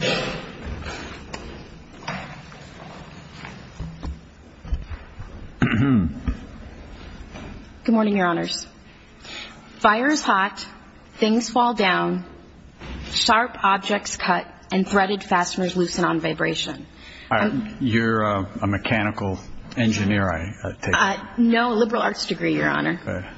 Good morning, your honors. Fire is hot, things fall down, sharp objects cut, and threaded fasteners loosen on vibration. You're a mechanical engineer, I take it? No, a liberal arts degree, your honor.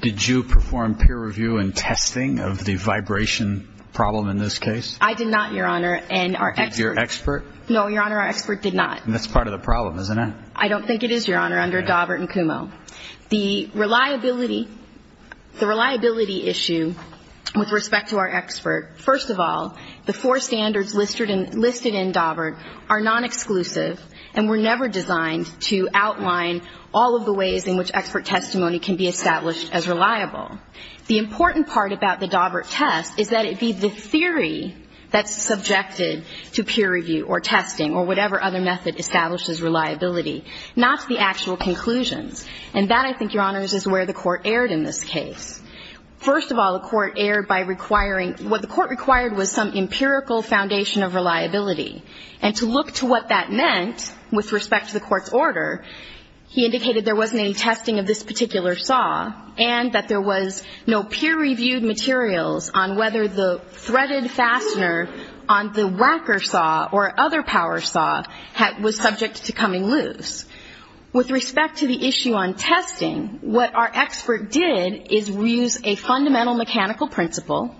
Did you perform peer review and testing of the vibration problem in this case? I did not, your honor. Did your expert? No, your honor, our expert did not. That's part of the problem, isn't it? I don't think it is, your honor, under Daubert and Kumho. The reliability issue with respect to our expert, first of all, the four standards listed in Daubert are non-exclusive and were never designed to outline all of the ways in which expert testimony can be established as reliable. The important part about the Daubert test is that it be the theory that's subjected to peer review or testing or whatever other method establishes reliability, not the actual conclusions. And that, I think, your honors, is where the Court erred in this case. First of all, the Court erred by requiring – what the Court required was some empirical foundation of reliability. And to look to what that meant with respect to the Court's order, he indicated there wasn't any testing of this particular saw and that there was no peer-reviewed materials on whether the threaded fastener on the Wacker saw or other power saw was subject to coming loose. With respect to the issue on testing, what our expert did is use a fundamental mechanical principle,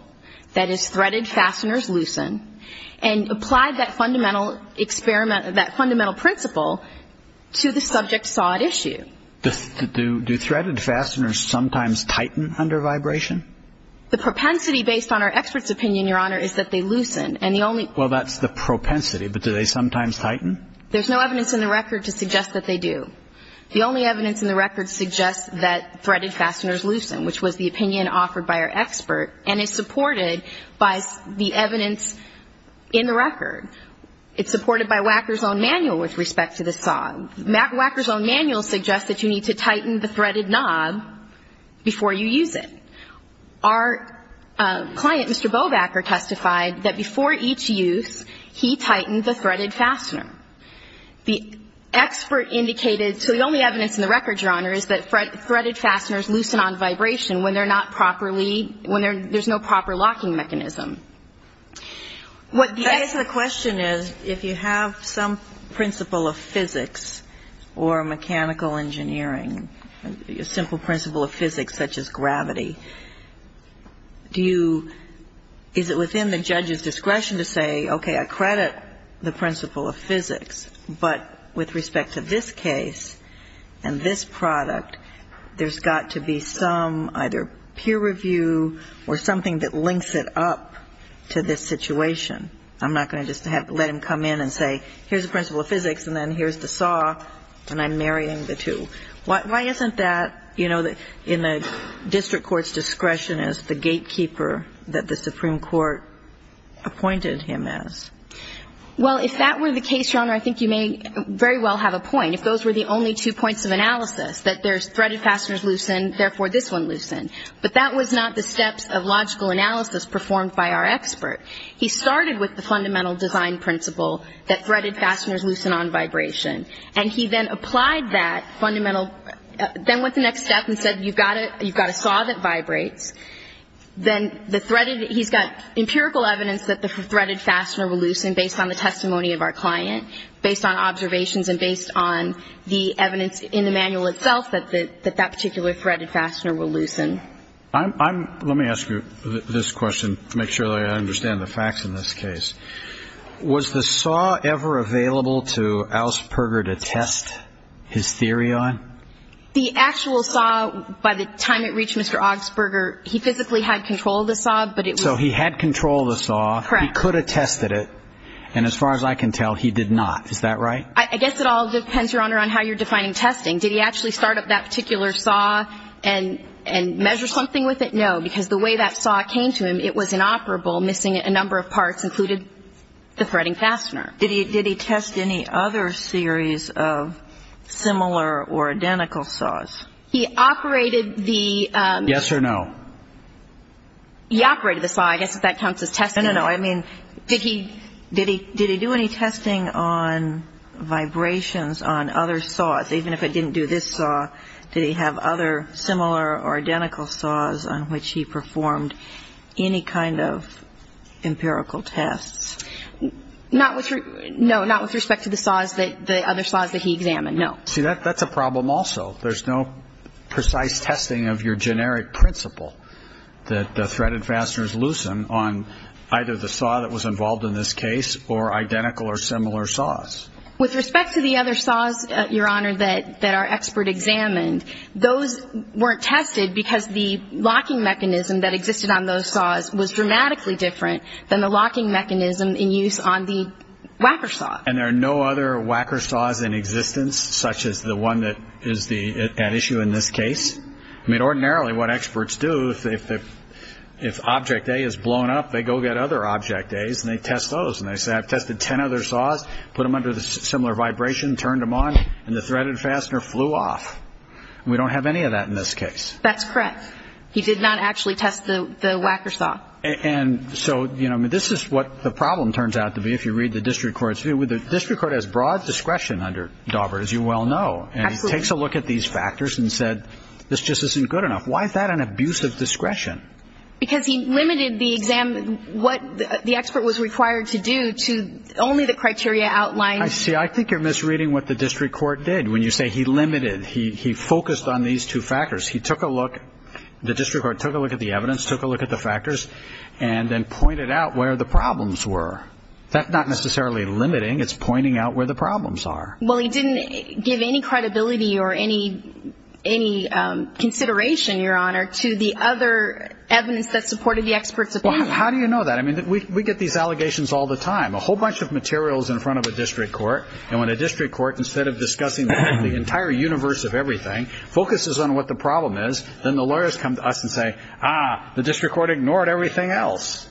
that is, threaded fasteners loosen, and applied that fundamental experiment – that was the opinion offered by our expert, and it's supported by the evidence in the record. It's supported by Wacker's own manual with respect to the saw. Wacker's own manual suggests that you need to tighten the fastener as much as you can, and it's supported before you use it. Our client, Mr. Bowbacker, testified that before each use, he tightened the threaded fastener. The expert indicated – so the only evidence in the record, your honors, is that threaded fasteners loosen on vibration when they're not properly – when there's no proper locking mechanism. What the expert – That is, the question is, if you have some principle of physics or mechanical engineering, a simple principle of physics such as gravity, do you – is it within the judge's discretion to say, okay, I credit the principle of physics, but with respect to this case and this product, there's got to be some either peer review or something that links it up to this situation. I'm not going to just let him come in and say, here's the principle of physics, and then here's the saw, and I'm marrying the two. Why isn't that, you know, in the district court's discretion as the gatekeeper that the Supreme Court appointed him as? Well, if that were the case, your honor, I think you may very well have a point. If those were the only two points of analysis, that there's threaded fasteners loosen, therefore this one loosened. But that was not the steps of logical analysis performed by our expert. He started with the fundamental design principle that threaded fasteners loosen on vibration. And he then applied that fundamental – then went to the next step and said, you've got a saw that vibrates. Then the threaded – he's got empirical evidence that the threaded fastener will loosen based on the testimony of our client, based on observations and based on the evidence in the manual itself that that particular threaded fastener will loosen. I'm – let me ask you this question to make sure that I understand the facts in this case. Was the saw ever available to Augsburger to test his theory on? The actual saw, by the time it reached Mr. Augsburger, he physically had control of the saw, but it was – So he had control of the saw. Correct. He could have tested it. And as far as I can tell, he did not. Is that right? I guess it all depends, Your Honor, on how you're defining testing. Did he actually start up that particular saw and measure something with it? No. Because the way that saw came to him, it was inoperable, missing a number of parts, including the threading fastener. Did he test any other series of similar or identical saws? He operated the – Yes or no? He operated the saw. I guess if that counts as testing. No, no, no. I mean, did he do any testing on vibrations on other saws? Even if it didn't do this saw, did he have other similar or identical saws on which he performed any kind of empirical tests? Not with – no, not with respect to the saws that – the other saws that he examined, no. See, that's a problem also. There's no precise testing of your generic principle that the threaded fasteners loosen on either the saw that was involved in this case or identical or similar saws. With respect to the other saws, Your Honor, that our expert examined, those weren't tested because the locking mechanism that existed on those saws was dramatically different than the locking mechanism in use on the Wacker saw. And there are no other Wacker saws in existence, such as the one that is the – at issue in this case. I mean, ordinarily what experts do, if object A is blown up, they go get other object A's and they test those. And they say, I've tested 10 other saws, put them under similar vibration, turned them on, and the threaded fastener flew off. And we don't have any of that in this case. That's correct. He did not actually test the Wacker saw. And so, you know, this is what the problem turns out to be if you read the district court's view. The district court has broad discretion under Daubert, as you well know. Absolutely. He takes a look at these factors and said, this just isn't good enough. Why is that an abuse of discretion? Because he limited the – what the expert was required to do to only the criteria outlined. I see. I think you're misreading what the district court did. When you say he limited, he focused on these two factors. He took a look – the district court took a look at the evidence, took a look at the factors, and then pointed out where the problems were. That's not necessarily limiting. It's pointing out where the problems are. Well, he didn't give any credibility or any consideration, Your Honor, to the other evidence that supported the expert's opinion. How do you know that? I mean, we get these allegations all the time. A whole bunch of materials in front of a district court, and when a district court, instead of discussing the entire universe of everything, focuses on what the problem is, then the lawyers come to us and say, ah, the district court ignored everything else.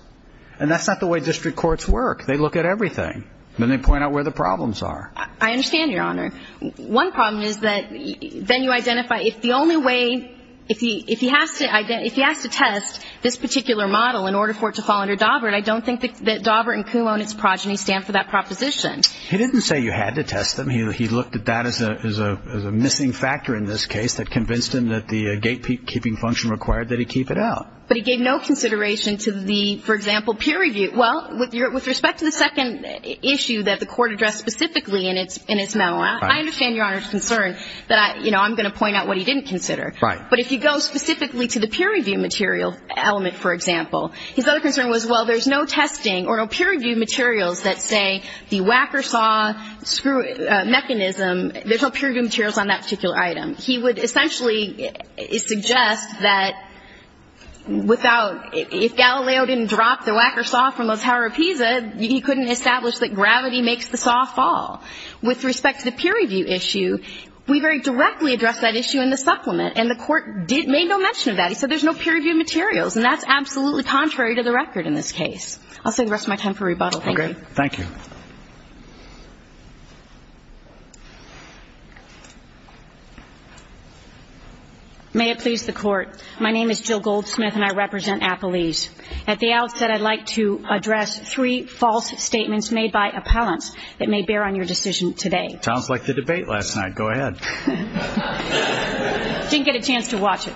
And that's not the way district courts work. They look at everything. Then they point out where the problems are. I understand, Your Honor. One problem is that then you identify – if the only way – if he has to – if he has to test this particular model in order for it to fall under Daubert, I don't think that Daubert and Kumho and its progeny stand for that proposition. He didn't say you had to test them. He looked at that as a missing factor in this case that convinced him that the gatekeeping function required that he keep it out. But he gave no consideration to the, for example, peer review. Well, with respect to the second issue that the court addressed specifically in its memo, I understand Your Honor's concern that, you know, I'm going to point out what he didn't consider. Right. But if you go specifically to the peer review material element, for example, his other concern was, well, there's no testing or no peer review materials that say the whack-or-saw mechanism – there's no peer review materials on that particular item. He would essentially suggest that without – if Galileo didn't drop the whack-or-saw from the Tower of Pisa, he couldn't establish that gravity makes the saw fall. With respect to the peer review issue, we very directly addressed that issue in the supplement, and the court made no mention of that. He said there's no peer review materials, and that's absolutely contrary to the record in this case. I'll save the rest of my time for rebuttal. Thank you. Thank you. May it please the Court. My name is Jill Goldsmith, and I represent Appalese. At the outset, I'd like to address three false statements made by appellants that may bear on your decision today. Sounds like the debate last night. Go ahead. Didn't get a chance to watch it.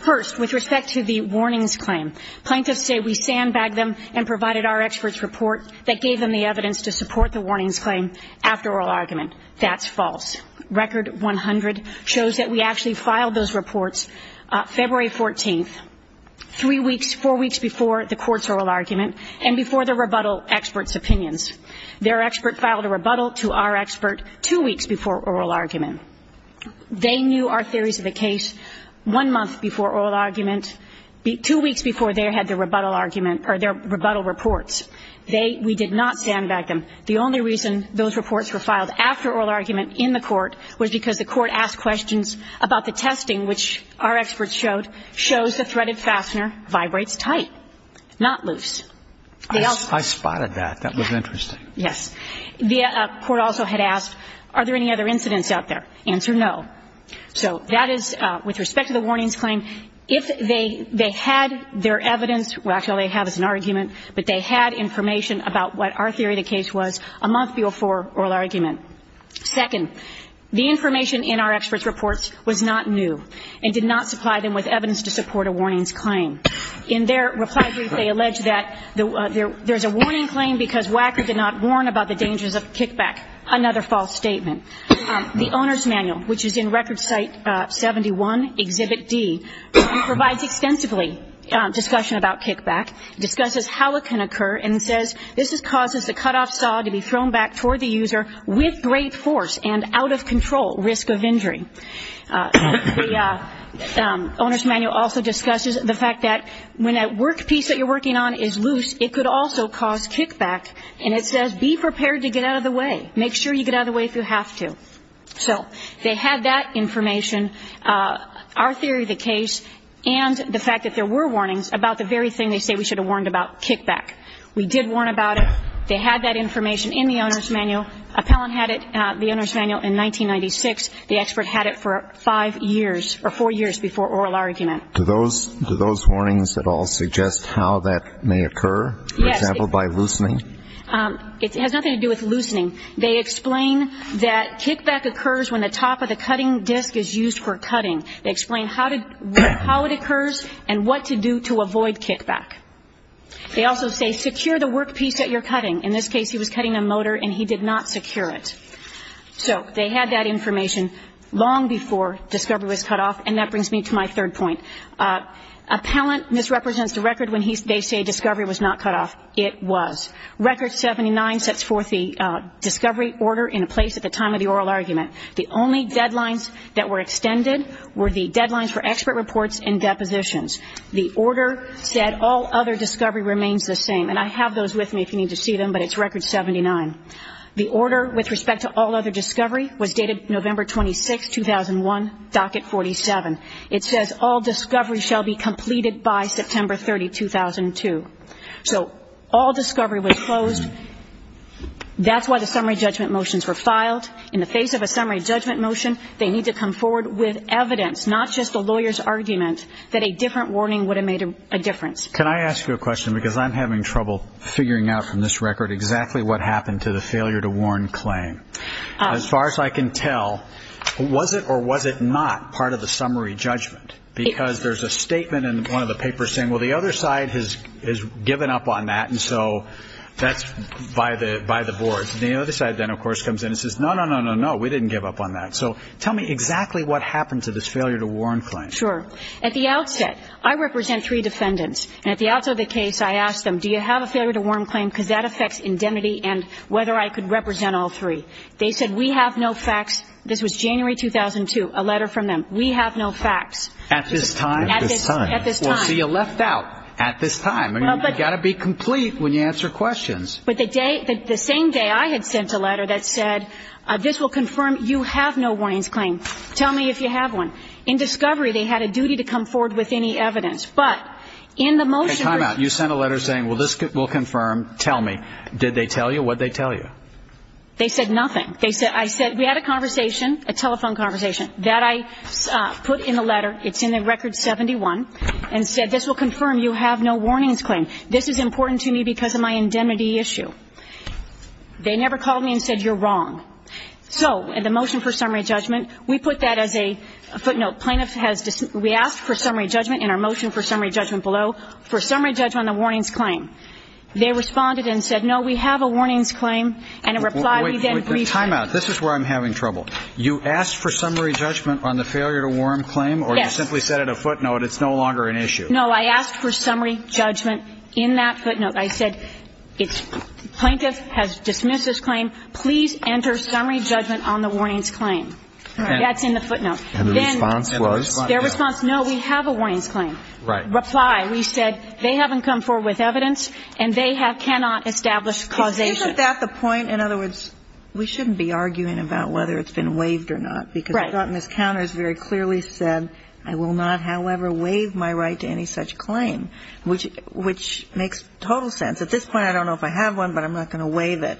First, with respect to the warnings claim, Plaintiffs say we sandbagged them and provided our experts' report that gave them the evidence to support the warnings claim after oral argument. That's false. Record 100 shows that we actually filed those reports February 14th, three weeks – four weeks before the court's oral argument and before the rebuttal experts' opinions. Their expert filed a rebuttal to our expert two weeks before oral argument. They knew our theories of the case one month before oral argument, two weeks before they had their rebuttal argument or their rebuttal reports. They – we did not sandbag them. The only reason those reports were filed after oral argument in the court was because the court asked questions about the testing, which our experts showed, shows the threaded fastener vibrates tight, not loose. I spotted that. That was interesting. Yes. The court also had asked, are there any other incidents out there? Answer, no. So that is with respect to the warnings claim. If they had their evidence – well, actually all they have is an argument, but they had information about what our theory of the case was a month before oral argument. Second, the information in our experts' reports was not new and did not supply them with evidence to support a warnings claim. In their reply brief, they allege that there is a warning claim because Wacker did not warn about the dangers of kickback, another false statement. The owner's manual, which is in Record Site 71, Exhibit D, provides extensively discussion about kickback, discusses how it can occur, and says this causes the cutoff saw to be thrown back toward the user with great force and out-of-control risk of injury. The owner's manual also discusses the fact that when that work piece that you're working on is loose, it could also cause kickback, and it says be prepared to get out of the way. Make sure you get out of the way if you have to. So they had that information, our theory of the case, and the fact that there were warnings about the very thing they say we should have warned about, kickback. We did warn about it. They had that information in the owner's manual. Appellant had it, the owner's manual, in 1996. The expert had it for five years or four years before oral argument. Do those warnings at all suggest how that may occur? Yes. For example, by loosening? It has nothing to do with loosening. They explain that kickback occurs when the top of the cutting disc is used for cutting. They explain how it occurs and what to do to avoid kickback. They also say secure the work piece that you're cutting. In this case, he was cutting a motor, and he did not secure it. So they had that information long before discovery was cut off, and that brings me to my third point. Appellant misrepresents the record when they say discovery was not cut off. It was. Record 79 sets forth the discovery order in place at the time of the oral argument. The only deadlines that were extended were the deadlines for expert reports and depositions. The order said all other discovery remains the same, and I have those with me if you need to see them, but it's record 79. The order with respect to all other discovery was dated November 26, 2001, docket 47. It says all discovery shall be completed by September 30, 2002. So all discovery was closed. That's why the summary judgment motions were filed. In the face of a summary judgment motion, they need to come forward with evidence, not just the lawyer's argument, that a different warning would have made a difference. Can I ask you a question? Because I'm having trouble figuring out from this record exactly what happened to the failure to warn claim. As far as I can tell, was it or was it not part of the summary judgment? Because there's a statement in one of the papers saying, well, the other side has given up on that, and so that's by the boards. And the other side then, of course, comes in and says, no, no, no, no, no, we didn't give up on that. So tell me exactly what happened to this failure to warn claim. Sure. At the outset, I represent three defendants, and at the outset of the case I asked them, do you have a failure to warn claim because that affects indemnity and whether I could represent all three. They said we have no facts. This was January 2002, a letter from them. We have no facts. At this time? At this time. At this time. So you left out at this time. You've got to be complete when you answer questions. But the same day I had sent a letter that said, this will confirm you have no warnings claim. Tell me if you have one. In discovery, they had a duty to come forward with any evidence. But in the motion you sent a letter saying, well, this will confirm, tell me. Did they tell you? What did they tell you? They said nothing. I said we had a conversation, a telephone conversation. That I put in the letter. It's in the record 71, and said this will confirm you have no warnings claim. This is important to me because of my indemnity issue. They never called me and said you're wrong. So in the motion for summary judgment, we put that as a footnote. Plaintiff has we asked for summary judgment in our motion for summary judgment below, for summary judgment on the warnings claim. They responded and said, no, we have a warnings claim. And in reply we then briefed them. Timeout. This is where I'm having trouble. You asked for summary judgment on the failure to warn claim? Yes. Or you simply said at a footnote it's no longer an issue? No, I asked for summary judgment in that footnote. I said plaintiff has dismissed this claim. Please enter summary judgment on the warnings claim. That's in the footnote. And the response was? Their response, no, we have a warnings claim. Right. Reply. We said they haven't come forward with evidence and they cannot establish causation. Isn't that the point? In other words, we shouldn't be arguing about whether it's been waived or not. Right. Because I thought Ms. Counters very clearly said I will not, however, waive my right to any such claim, which makes total sense. At this point I don't know if I have one, but I'm not going to waive it.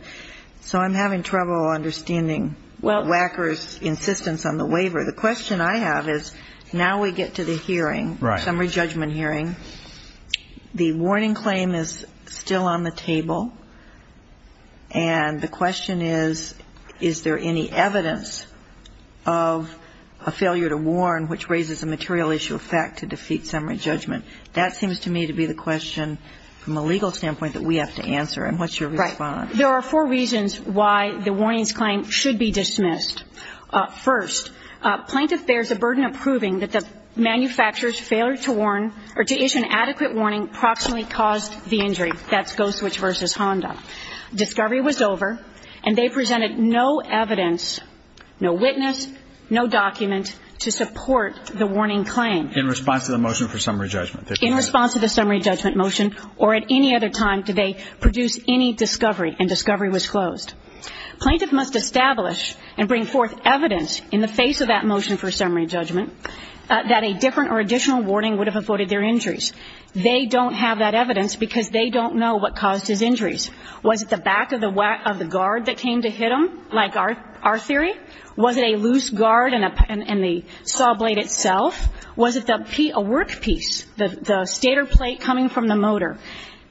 So I'm having trouble understanding Wacker's insistence on the waiver. The question I have is now we get to the hearing, summary judgment hearing. The warning claim is still on the table. And the question is, is there any evidence of a failure to warn, which raises a material issue of fact to defeat summary judgment? That seems to me to be the question from a legal standpoint that we have to answer. And what's your response? There are four reasons why the warnings claim should be dismissed. First, plaintiff bears a burden of proving that the manufacturer's failure to warn or to issue an adequate warning proximately caused the injury. That's Ghost Switch v. Honda. Discovery was over and they presented no evidence, no witness, no document, to support the warning claim. In response to the motion for summary judgment. In response to the summary judgment motion or at any other time did they produce any discovery and discovery was closed. Plaintiff must establish and bring forth evidence in the face of that motion for summary judgment that a different or additional warning would have avoided their injuries. They don't have that evidence because they don't know what caused his injuries. Was it the back of the guard that came to hit him, like our theory? Was it a loose guard and the saw blade itself? Was it a work piece, the stator plate coming from the motor?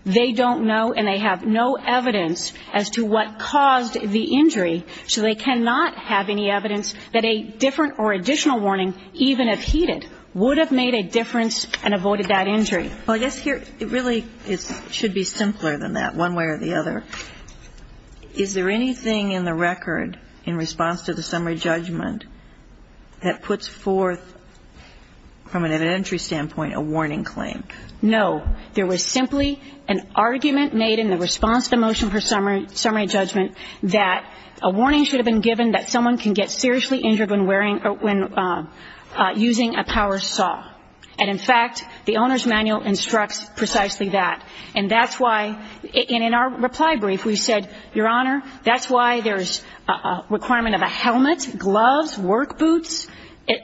They don't know and they have no evidence as to what caused the injury, so they cannot have any evidence that a different or additional warning even if he did would have made a difference and avoided that injury. Well, I guess here it really should be simpler than that one way or the other. Is there anything in the record in response to the summary judgment that puts forth from an evidentiary standpoint a warning claim? No. There was simply an argument made in the response to the motion for summary judgment that a warning should have been given that someone can get seriously injured when wearing or when using a power saw. And, in fact, the Owner's Manual instructs precisely that. And that's why in our reply brief we said, Your Honor, that's why there's a requirement of a helmet, gloves, work boots,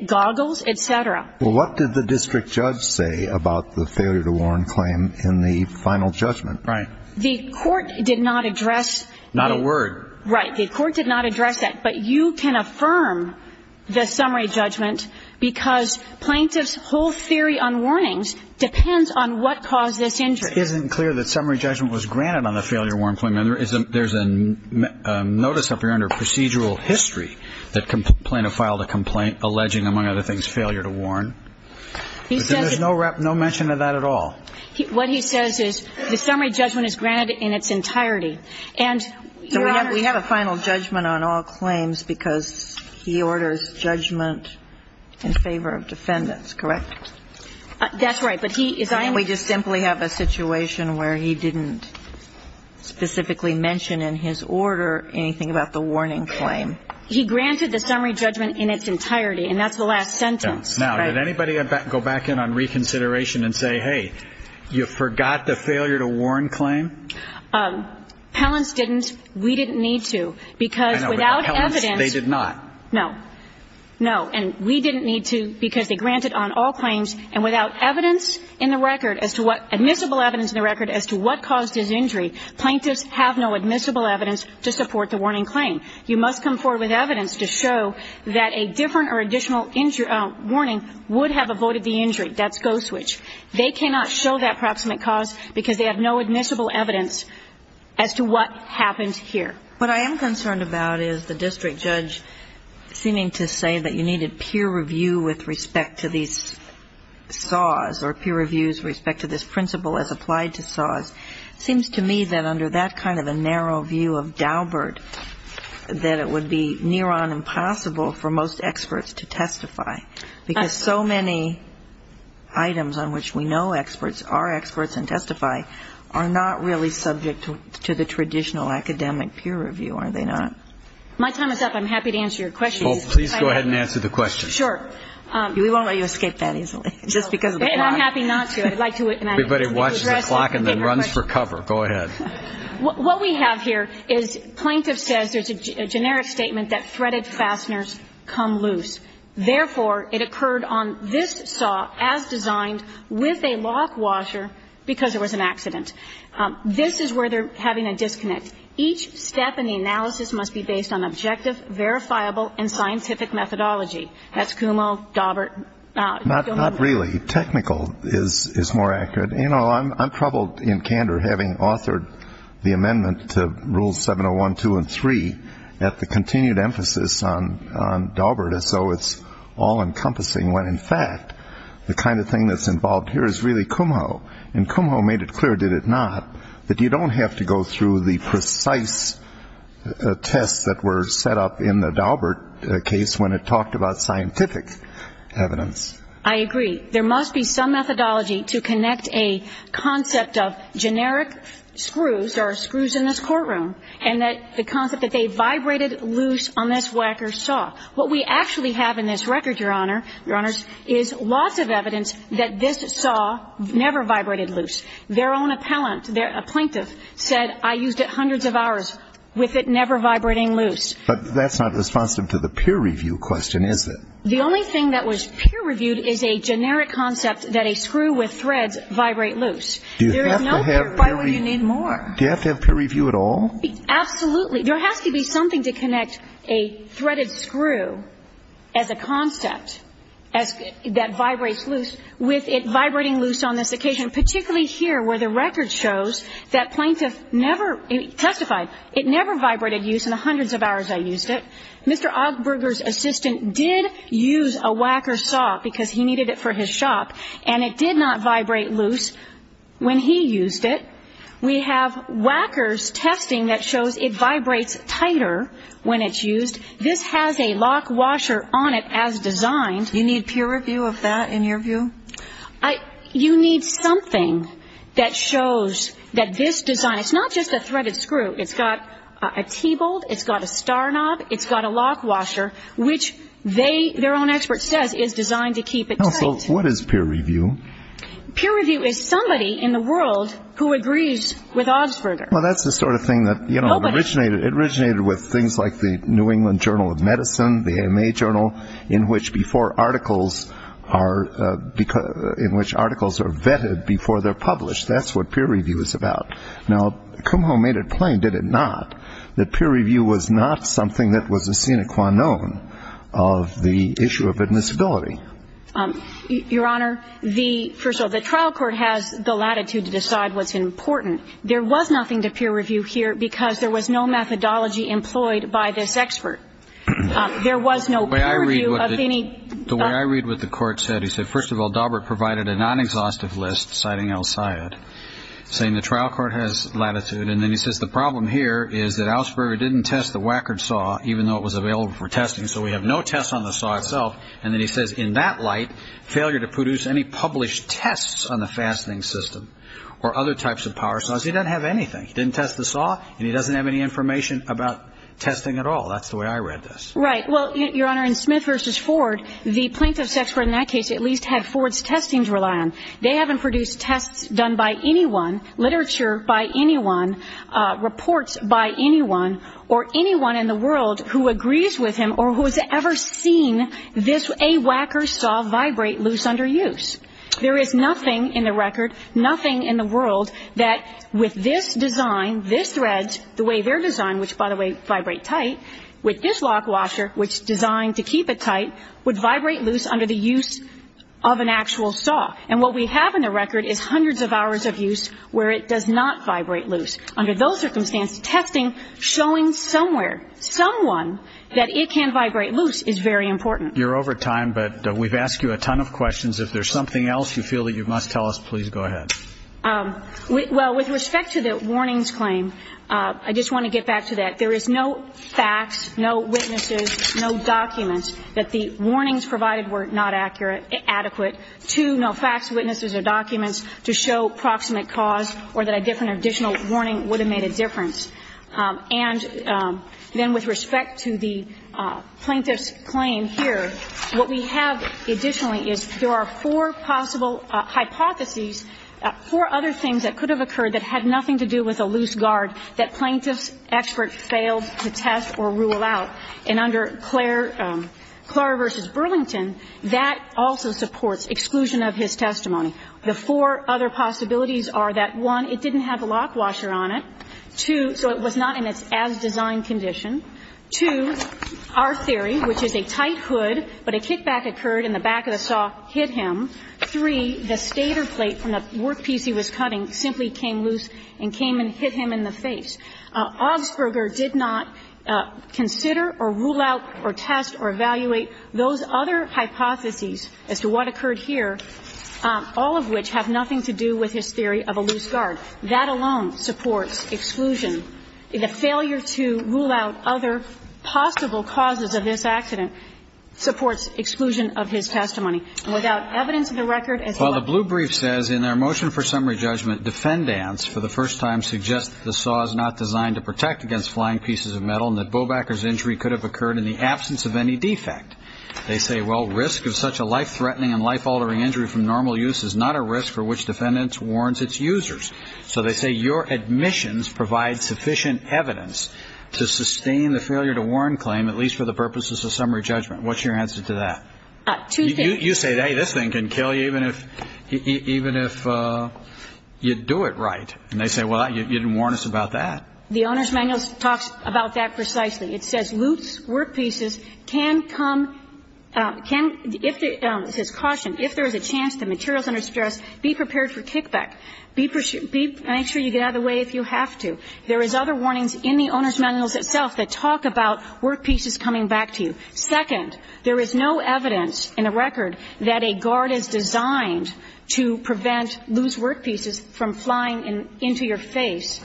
goggles, et cetera. Well, what did the district judge say about the failure to warn claim in the final judgment? Right. The court did not address that. Not a word. Right. The court did not address that. But you can affirm the summary judgment because plaintiff's whole theory on warnings depends on what caused this injury. It just isn't clear that summary judgment was granted on the failure to warn claim. And there's a notice up here under procedural history that plaintiff filed a complaint alleging, among other things, failure to warn. There's no mention of that at all. What he says is the summary judgment is granted in its entirety. And, Your Honor We have a final judgment on all claims because he orders judgment in favor of defendants. Correct? That's right. Can't we just simply have a situation where he didn't specifically mention in his order anything about the warning claim? He granted the summary judgment in its entirety. And that's the last sentence. Now, did anybody go back in on reconsideration and say, hey, you forgot the failure to warn claim? Pellants didn't. We didn't need to. Because without evidence. They did not. No. No. And we didn't need to because they granted on all claims. And without evidence in the record as to what, admissible evidence in the record as to what caused his injury, plaintiffs have no admissible evidence to support the warning claim. You must come forward with evidence to show that a different or additional warning would have avoided the injury. That's go switch. They cannot show that proximate cause because they have no admissible evidence as to what happened here. What I am concerned about is the district judge seeming to say that you needed peer review with respect to these SAWs or peer reviews with respect to this principle as applied to SAWs. It seems to me that under that kind of a narrow view of Daubert, that it would be near on impossible for most experts to testify. Because so many items on which we know experts are experts and testify are not really subject to the traditional academic peer review, are they not? My time is up. I'm happy to answer your questions. Please go ahead and answer the questions. Sure. We won't let you escape that easily just because of the clock. I'm happy not to. Everybody watches the clock and then runs for cover. Go ahead. What we have here is plaintiff says there's a generic statement that threaded fasteners come loose. Therefore, it occurred on this SAW as designed with a lock washer because there was an accident. This is where they're having a disconnect. Each step in the analysis must be based on objective, verifiable, and scientific methodology. That's Kumho, Daubert. Not really. Technical is more accurate. You know, I'm troubled in candor having authored the amendment to rules 701, 702, and 703 at the continued emphasis on Daubert as though it's all encompassing when, in fact, the kind of thing that's involved here is really Kumho. And Kumho made it clear, did it not, that you don't have to go through the precise tests that were set up in the Daubert case when it talked about scientific evidence. I agree. There must be some methodology to connect a concept of generic screws, there are screws in this courtroom, and the concept that they vibrated loose on this Wacker SAW. What we actually have in this record, Your Honor, is lots of evidence that this saw never vibrated loose. Their own appellant, a plaintiff, said, I used it hundreds of hours with it never vibrating loose. But that's not responsive to the peer review question, is it? The only thing that was peer reviewed is a generic concept that a screw with threads vibrate loose. There is no peer review. Why would you need more? Do you have to have peer review at all? Absolutely. There has to be something to connect a threaded screw as a concept that vibrates loose with it vibrating loose on this occasion, particularly here where the record shows that plaintiff never testified, it never vibrated loose in the hundreds of hours I used it. Mr. Ogburger's assistant did use a Wacker SAW because he needed it for his shop, and it did not vibrate loose when he used it. We have Wacker's testing that shows it vibrates tighter when it's used. This has a lock washer on it as designed. You need peer review of that, in your view? You need something that shows that this design, it's not just a threaded screw, it's got a T-bolt, it's got a star knob, it's got a lock washer, which they, their own expert says, is designed to keep it tight. So what is peer review? Peer review is somebody in the world who agrees with Ogburger. Well, that's the sort of thing that, you know, it originated with things like the New England Journal of Medicine, the AMA Journal, in which before articles are, in which articles are vetted before they're published. That's what peer review is about. Now, Kumho made it plain, did it not, that peer review was not something that was a sine qua non of the issue of admissibility. Your Honor, the, first of all, the trial court has the latitude to decide what's important. There was nothing to peer review here because there was no methodology employed by this expert. There was no peer review of any. The way I read what the court said, he said, first of all, Daubert provided a non-exhaustive list, citing El Sayed, saying the trial court has latitude, and then he says the problem here is that Augsburger didn't test the Wackerd saw, even though it was available for testing, so we have no tests on the saw itself, and then he says in that light, failure to produce any published tests on the fastening system or other types of power saws. He doesn't have anything. He didn't test the saw, and he doesn't have any information about testing at all. That's the way I read this. Right. Well, Your Honor, in Smith versus Ford, the plaintiff's expert in that case at least had Ford's testing to rely on. They haven't produced tests done by anyone, literature by anyone, reports by anyone or anyone in the world who agrees with him or who has ever seen a Wacker saw vibrate loose under use. There is nothing in the record, nothing in the world, that with this design, this thread, the way they're designed, which, by the way, vibrate tight, with this lock washer, which is designed to keep it tight, would vibrate loose under the use of an actual saw. And what we have in the record is hundreds of hours of use where it does not vibrate loose. Under those circumstances, testing, showing somewhere, someone, that it can vibrate loose under the use of a saw, is very important. You're over time, but we've asked you a ton of questions. If there's something else you feel that you must tell us, please go ahead. Well, with respect to the warnings claim, I just want to get back to that. There is no facts, no witnesses, no documents that the warnings provided were not accurate, adequate to no facts, witnesses or documents to show proximate cause or that a different additional warning would have made a difference. And then with respect to the plaintiff's claim here, what we have additionally is there are four possible hypotheses, four other things that could have occurred that had nothing to do with a loose guard that plaintiff's expert failed to test or rule out. And under Clara v. Burlington, that also supports exclusion of his testimony. The four other possibilities are that, one, it didn't have a lock washer on it. Two, so it was not in its as-designed condition. Two, our theory, which is a tight hood, but a kickback occurred and the back of the saw hit him. Three, the stator plate from the workpiece he was cutting simply came loose and came and hit him in the face. Augsburger did not consider or rule out or test or evaluate those other hypotheses as to what occurred here, all of which have nothing to do with his theory of a loose guard. That alone supports exclusion. The failure to rule out other possible causes of this accident supports exclusion of his testimony. And without evidence of the record, as well as the blue brief says in our motion for summary judgment, defendants for the first time suggest that the saw is not designed to protect against flying pieces of metal and that Bobacker's injury could have occurred in the absence of any defect. They say, well, risk of such a life-threatening and life-altering injury from normal use is not a risk for which defendants warns its users. So they say your admissions provide sufficient evidence to sustain the failure to warn claim, at least for the purposes of summary judgment. What's your answer to that? Two things. You say, hey, this thing can kill you even if you do it right. And they say, well, you didn't warn us about that. The Owner's Manual talks about that precisely. It says, loose workpieces can come, can, if the, it says, caution, if there is a chance be prepared for kickback. Make sure you get out of the way if you have to. There is other warnings in the Owner's Manual itself that talk about workpieces coming back to you. Second, there is no evidence in the record that a guard is designed to prevent loose workpieces from flying into your face,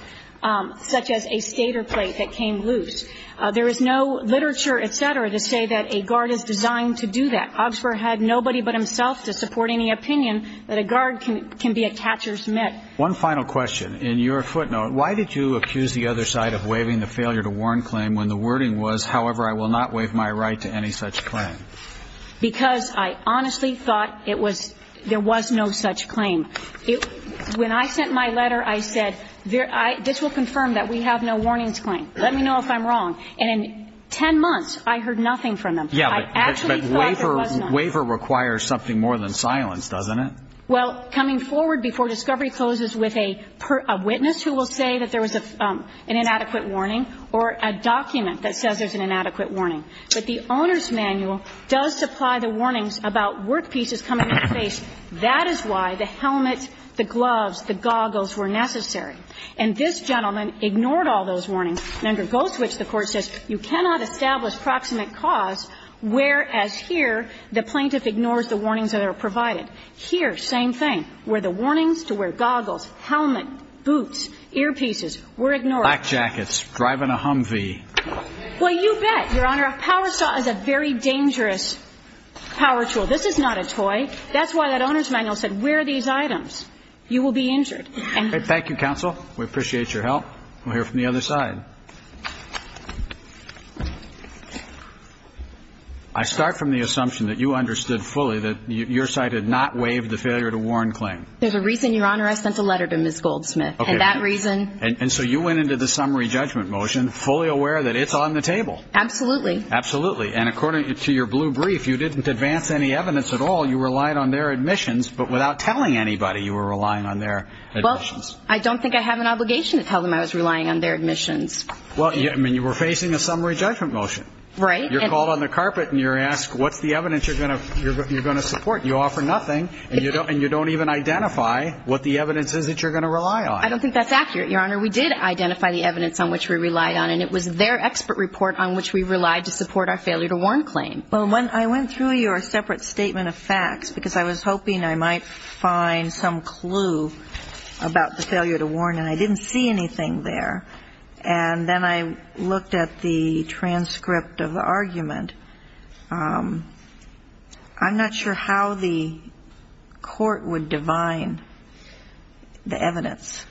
such as a skater plate that came loose. There is no literature, et cetera, to say that a guard is designed to do that. Oxford had nobody but himself to support any opinion that a guard can be a catcher's mitt. One final question. In your footnote, why did you accuse the other side of waiving the failure to warn claim when the wording was, however, I will not waive my right to any such claim? Because I honestly thought it was, there was no such claim. When I sent my letter, I said, this will confirm that we have no warnings claim. Let me know if I'm wrong. And in ten months, I heard nothing from them. I actually thought there was none. But waiver requires something more than silence, doesn't it? Well, coming forward before discovery closes with a witness who will say that there was an inadequate warning or a document that says there's an inadequate warning. But the Owner's Manual does supply the warnings about workpieces coming in your face. That is why the helmet, the gloves, the goggles were necessary. And this gentleman ignored all those warnings and undergoes which the Court says, you cannot establish proximate cause whereas here the plaintiff ignores the warnings that are provided. Here, same thing. Were the warnings to wear goggles, helmet, boots, earpieces were ignored. Black jackets, driving a Humvee. Well, you bet, Your Honor. A power saw is a very dangerous power tool. This is not a toy. That's why that Owner's Manual said wear these items. You will be injured. Thank you, counsel. We appreciate your help. We'll hear from the other side. I start from the assumption that you understood fully that your side had not waived the failure to warn claim. There's a reason, Your Honor. I sent a letter to Ms. Goldsmith. Okay. And that reason. And so you went into the summary judgment motion fully aware that it's on the table. Absolutely. Absolutely. And according to your blue brief, you didn't advance any evidence at all. You relied on their admissions but without telling anybody you were relying on their admissions. Well, I don't think I have an obligation to tell them I was relying on their admissions. Well, I mean, you were facing a summary judgment motion. Right. You're called on the carpet and you're asked what's the evidence you're going to support. You offer nothing, and you don't even identify what the evidence is that you're going to rely on. I don't think that's accurate, Your Honor. We did identify the evidence on which we relied on, and it was their expert report on which we relied to support our failure to warn claim. Well, when I went through your separate statement of facts, because I was hoping I might find some clue about the failure to warn, and I didn't see anything there, and then I looked at the transcript of the argument, I'm not sure how the court would divine the evidence.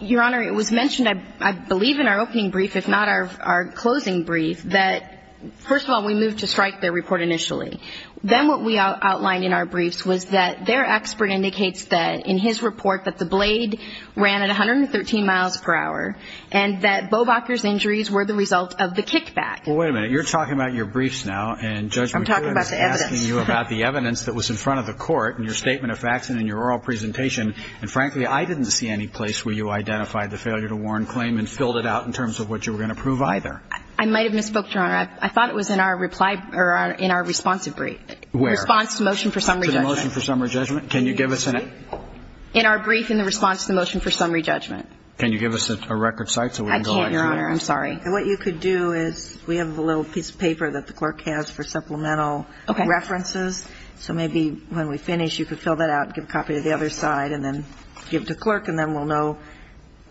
Your Honor, it was mentioned, I believe, in our opening brief, if not our closing brief, that, first of all, we moved to strike their report initially. Then what we outlined in our briefs was that their expert indicates that in his report that the blade ran at 113 miles per hour, and that Bobacher's injuries were the result of the kickback. Well, wait a minute. You're talking about your briefs now, and Judge McGovern is asking you about the evidence that was in front of the court in your statement of facts and in your oral presentation, and, frankly, I didn't see any place where you identified the failure to warn claim and filled it out in terms of what you were going to prove either. I might have misspoke, Your Honor. I thought it was in our response to motion for summary judgment. To the motion for summary judgment? Can you give us an example? In our brief in the response to the motion for summary judgment. Can you give us a record site so we can go back to that? I can't, Your Honor. I'm sorry. What you could do is we have a little piece of paper that the clerk has for supplemental references. Okay. So maybe when we finish, you could fill that out and give a copy to the other side and then give it to the clerk, and then we'll know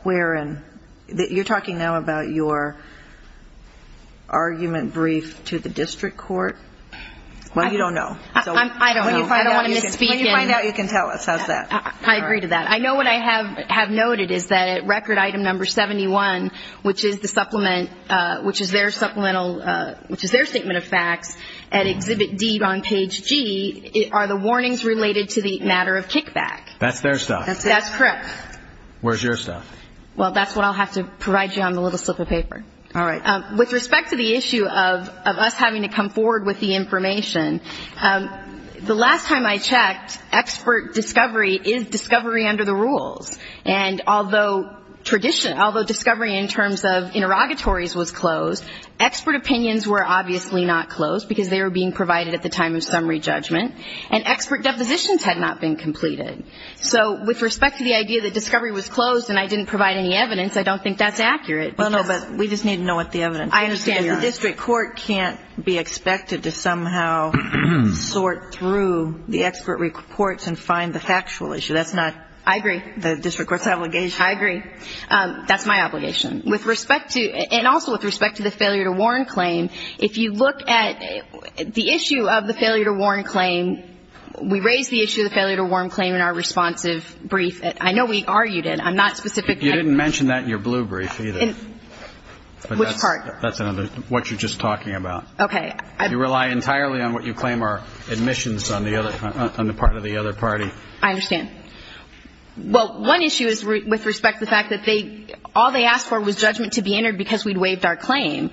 where in. You're talking now about your argument brief to the district court? Well, you don't know. I don't know. I don't want to misspeak. When you find out, you can tell us. How's that? I agree to that. I know what I have noted is that at record item number 71, which is the supplement, which is their supplemental, which is their statement of facts, at exhibit D on page G, are the warnings related to the matter of kickback. That's their stuff? That's correct. Where's your stuff? Well, that's what I'll have to provide you on the little slip of paper. All right. With respect to the issue of us having to come forward with the information, the last time I checked, expert discovery is discovery under the rules, and although discovery in terms of interrogatories was closed, expert opinions were obviously not closed, because they were being provided at the time of summary judgment, and expert depositions had not been completed. So with respect to the idea that discovery was closed and I didn't provide any evidence, I don't think that's accurate. Well, no, but we just need to know what the evidence is. I understand. The district court can't be expected to somehow sort through the expert reports and find the factual issue. That's not the district court's obligation. I agree. That's my obligation. And also with respect to the failure to warn claim, if you look at the issue of the failure to warn claim, we raised the issue of the failure to warn claim in our responsive brief. I know we argued it. I'm not specific. You didn't mention that in your blue brief either. Which part? That's what you're just talking about. Okay. You rely entirely on what you claim are admissions on the part of the other party. I understand. Well, one issue is with respect to the fact that all they asked for was judgment to be entered because we'd waived our claim.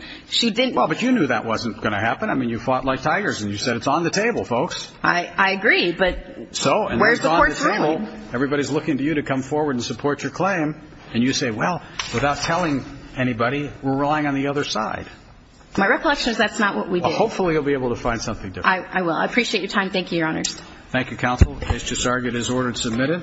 Well, but you knew that wasn't going to happen. I mean, you fought like tigers and you said, It's on the table, folks. I agree, but where's the court's ruling? Everybody's looking to you to come forward and support your claim, and you say, Well, without telling anybody, we're relying on the other side. My reflection is that's not what we did. Well, hopefully you'll be able to find something different. I will. I appreciate your time. Thank you, Your Honors. Thank you, Counsel. Mr. Sargat is ordered submitted.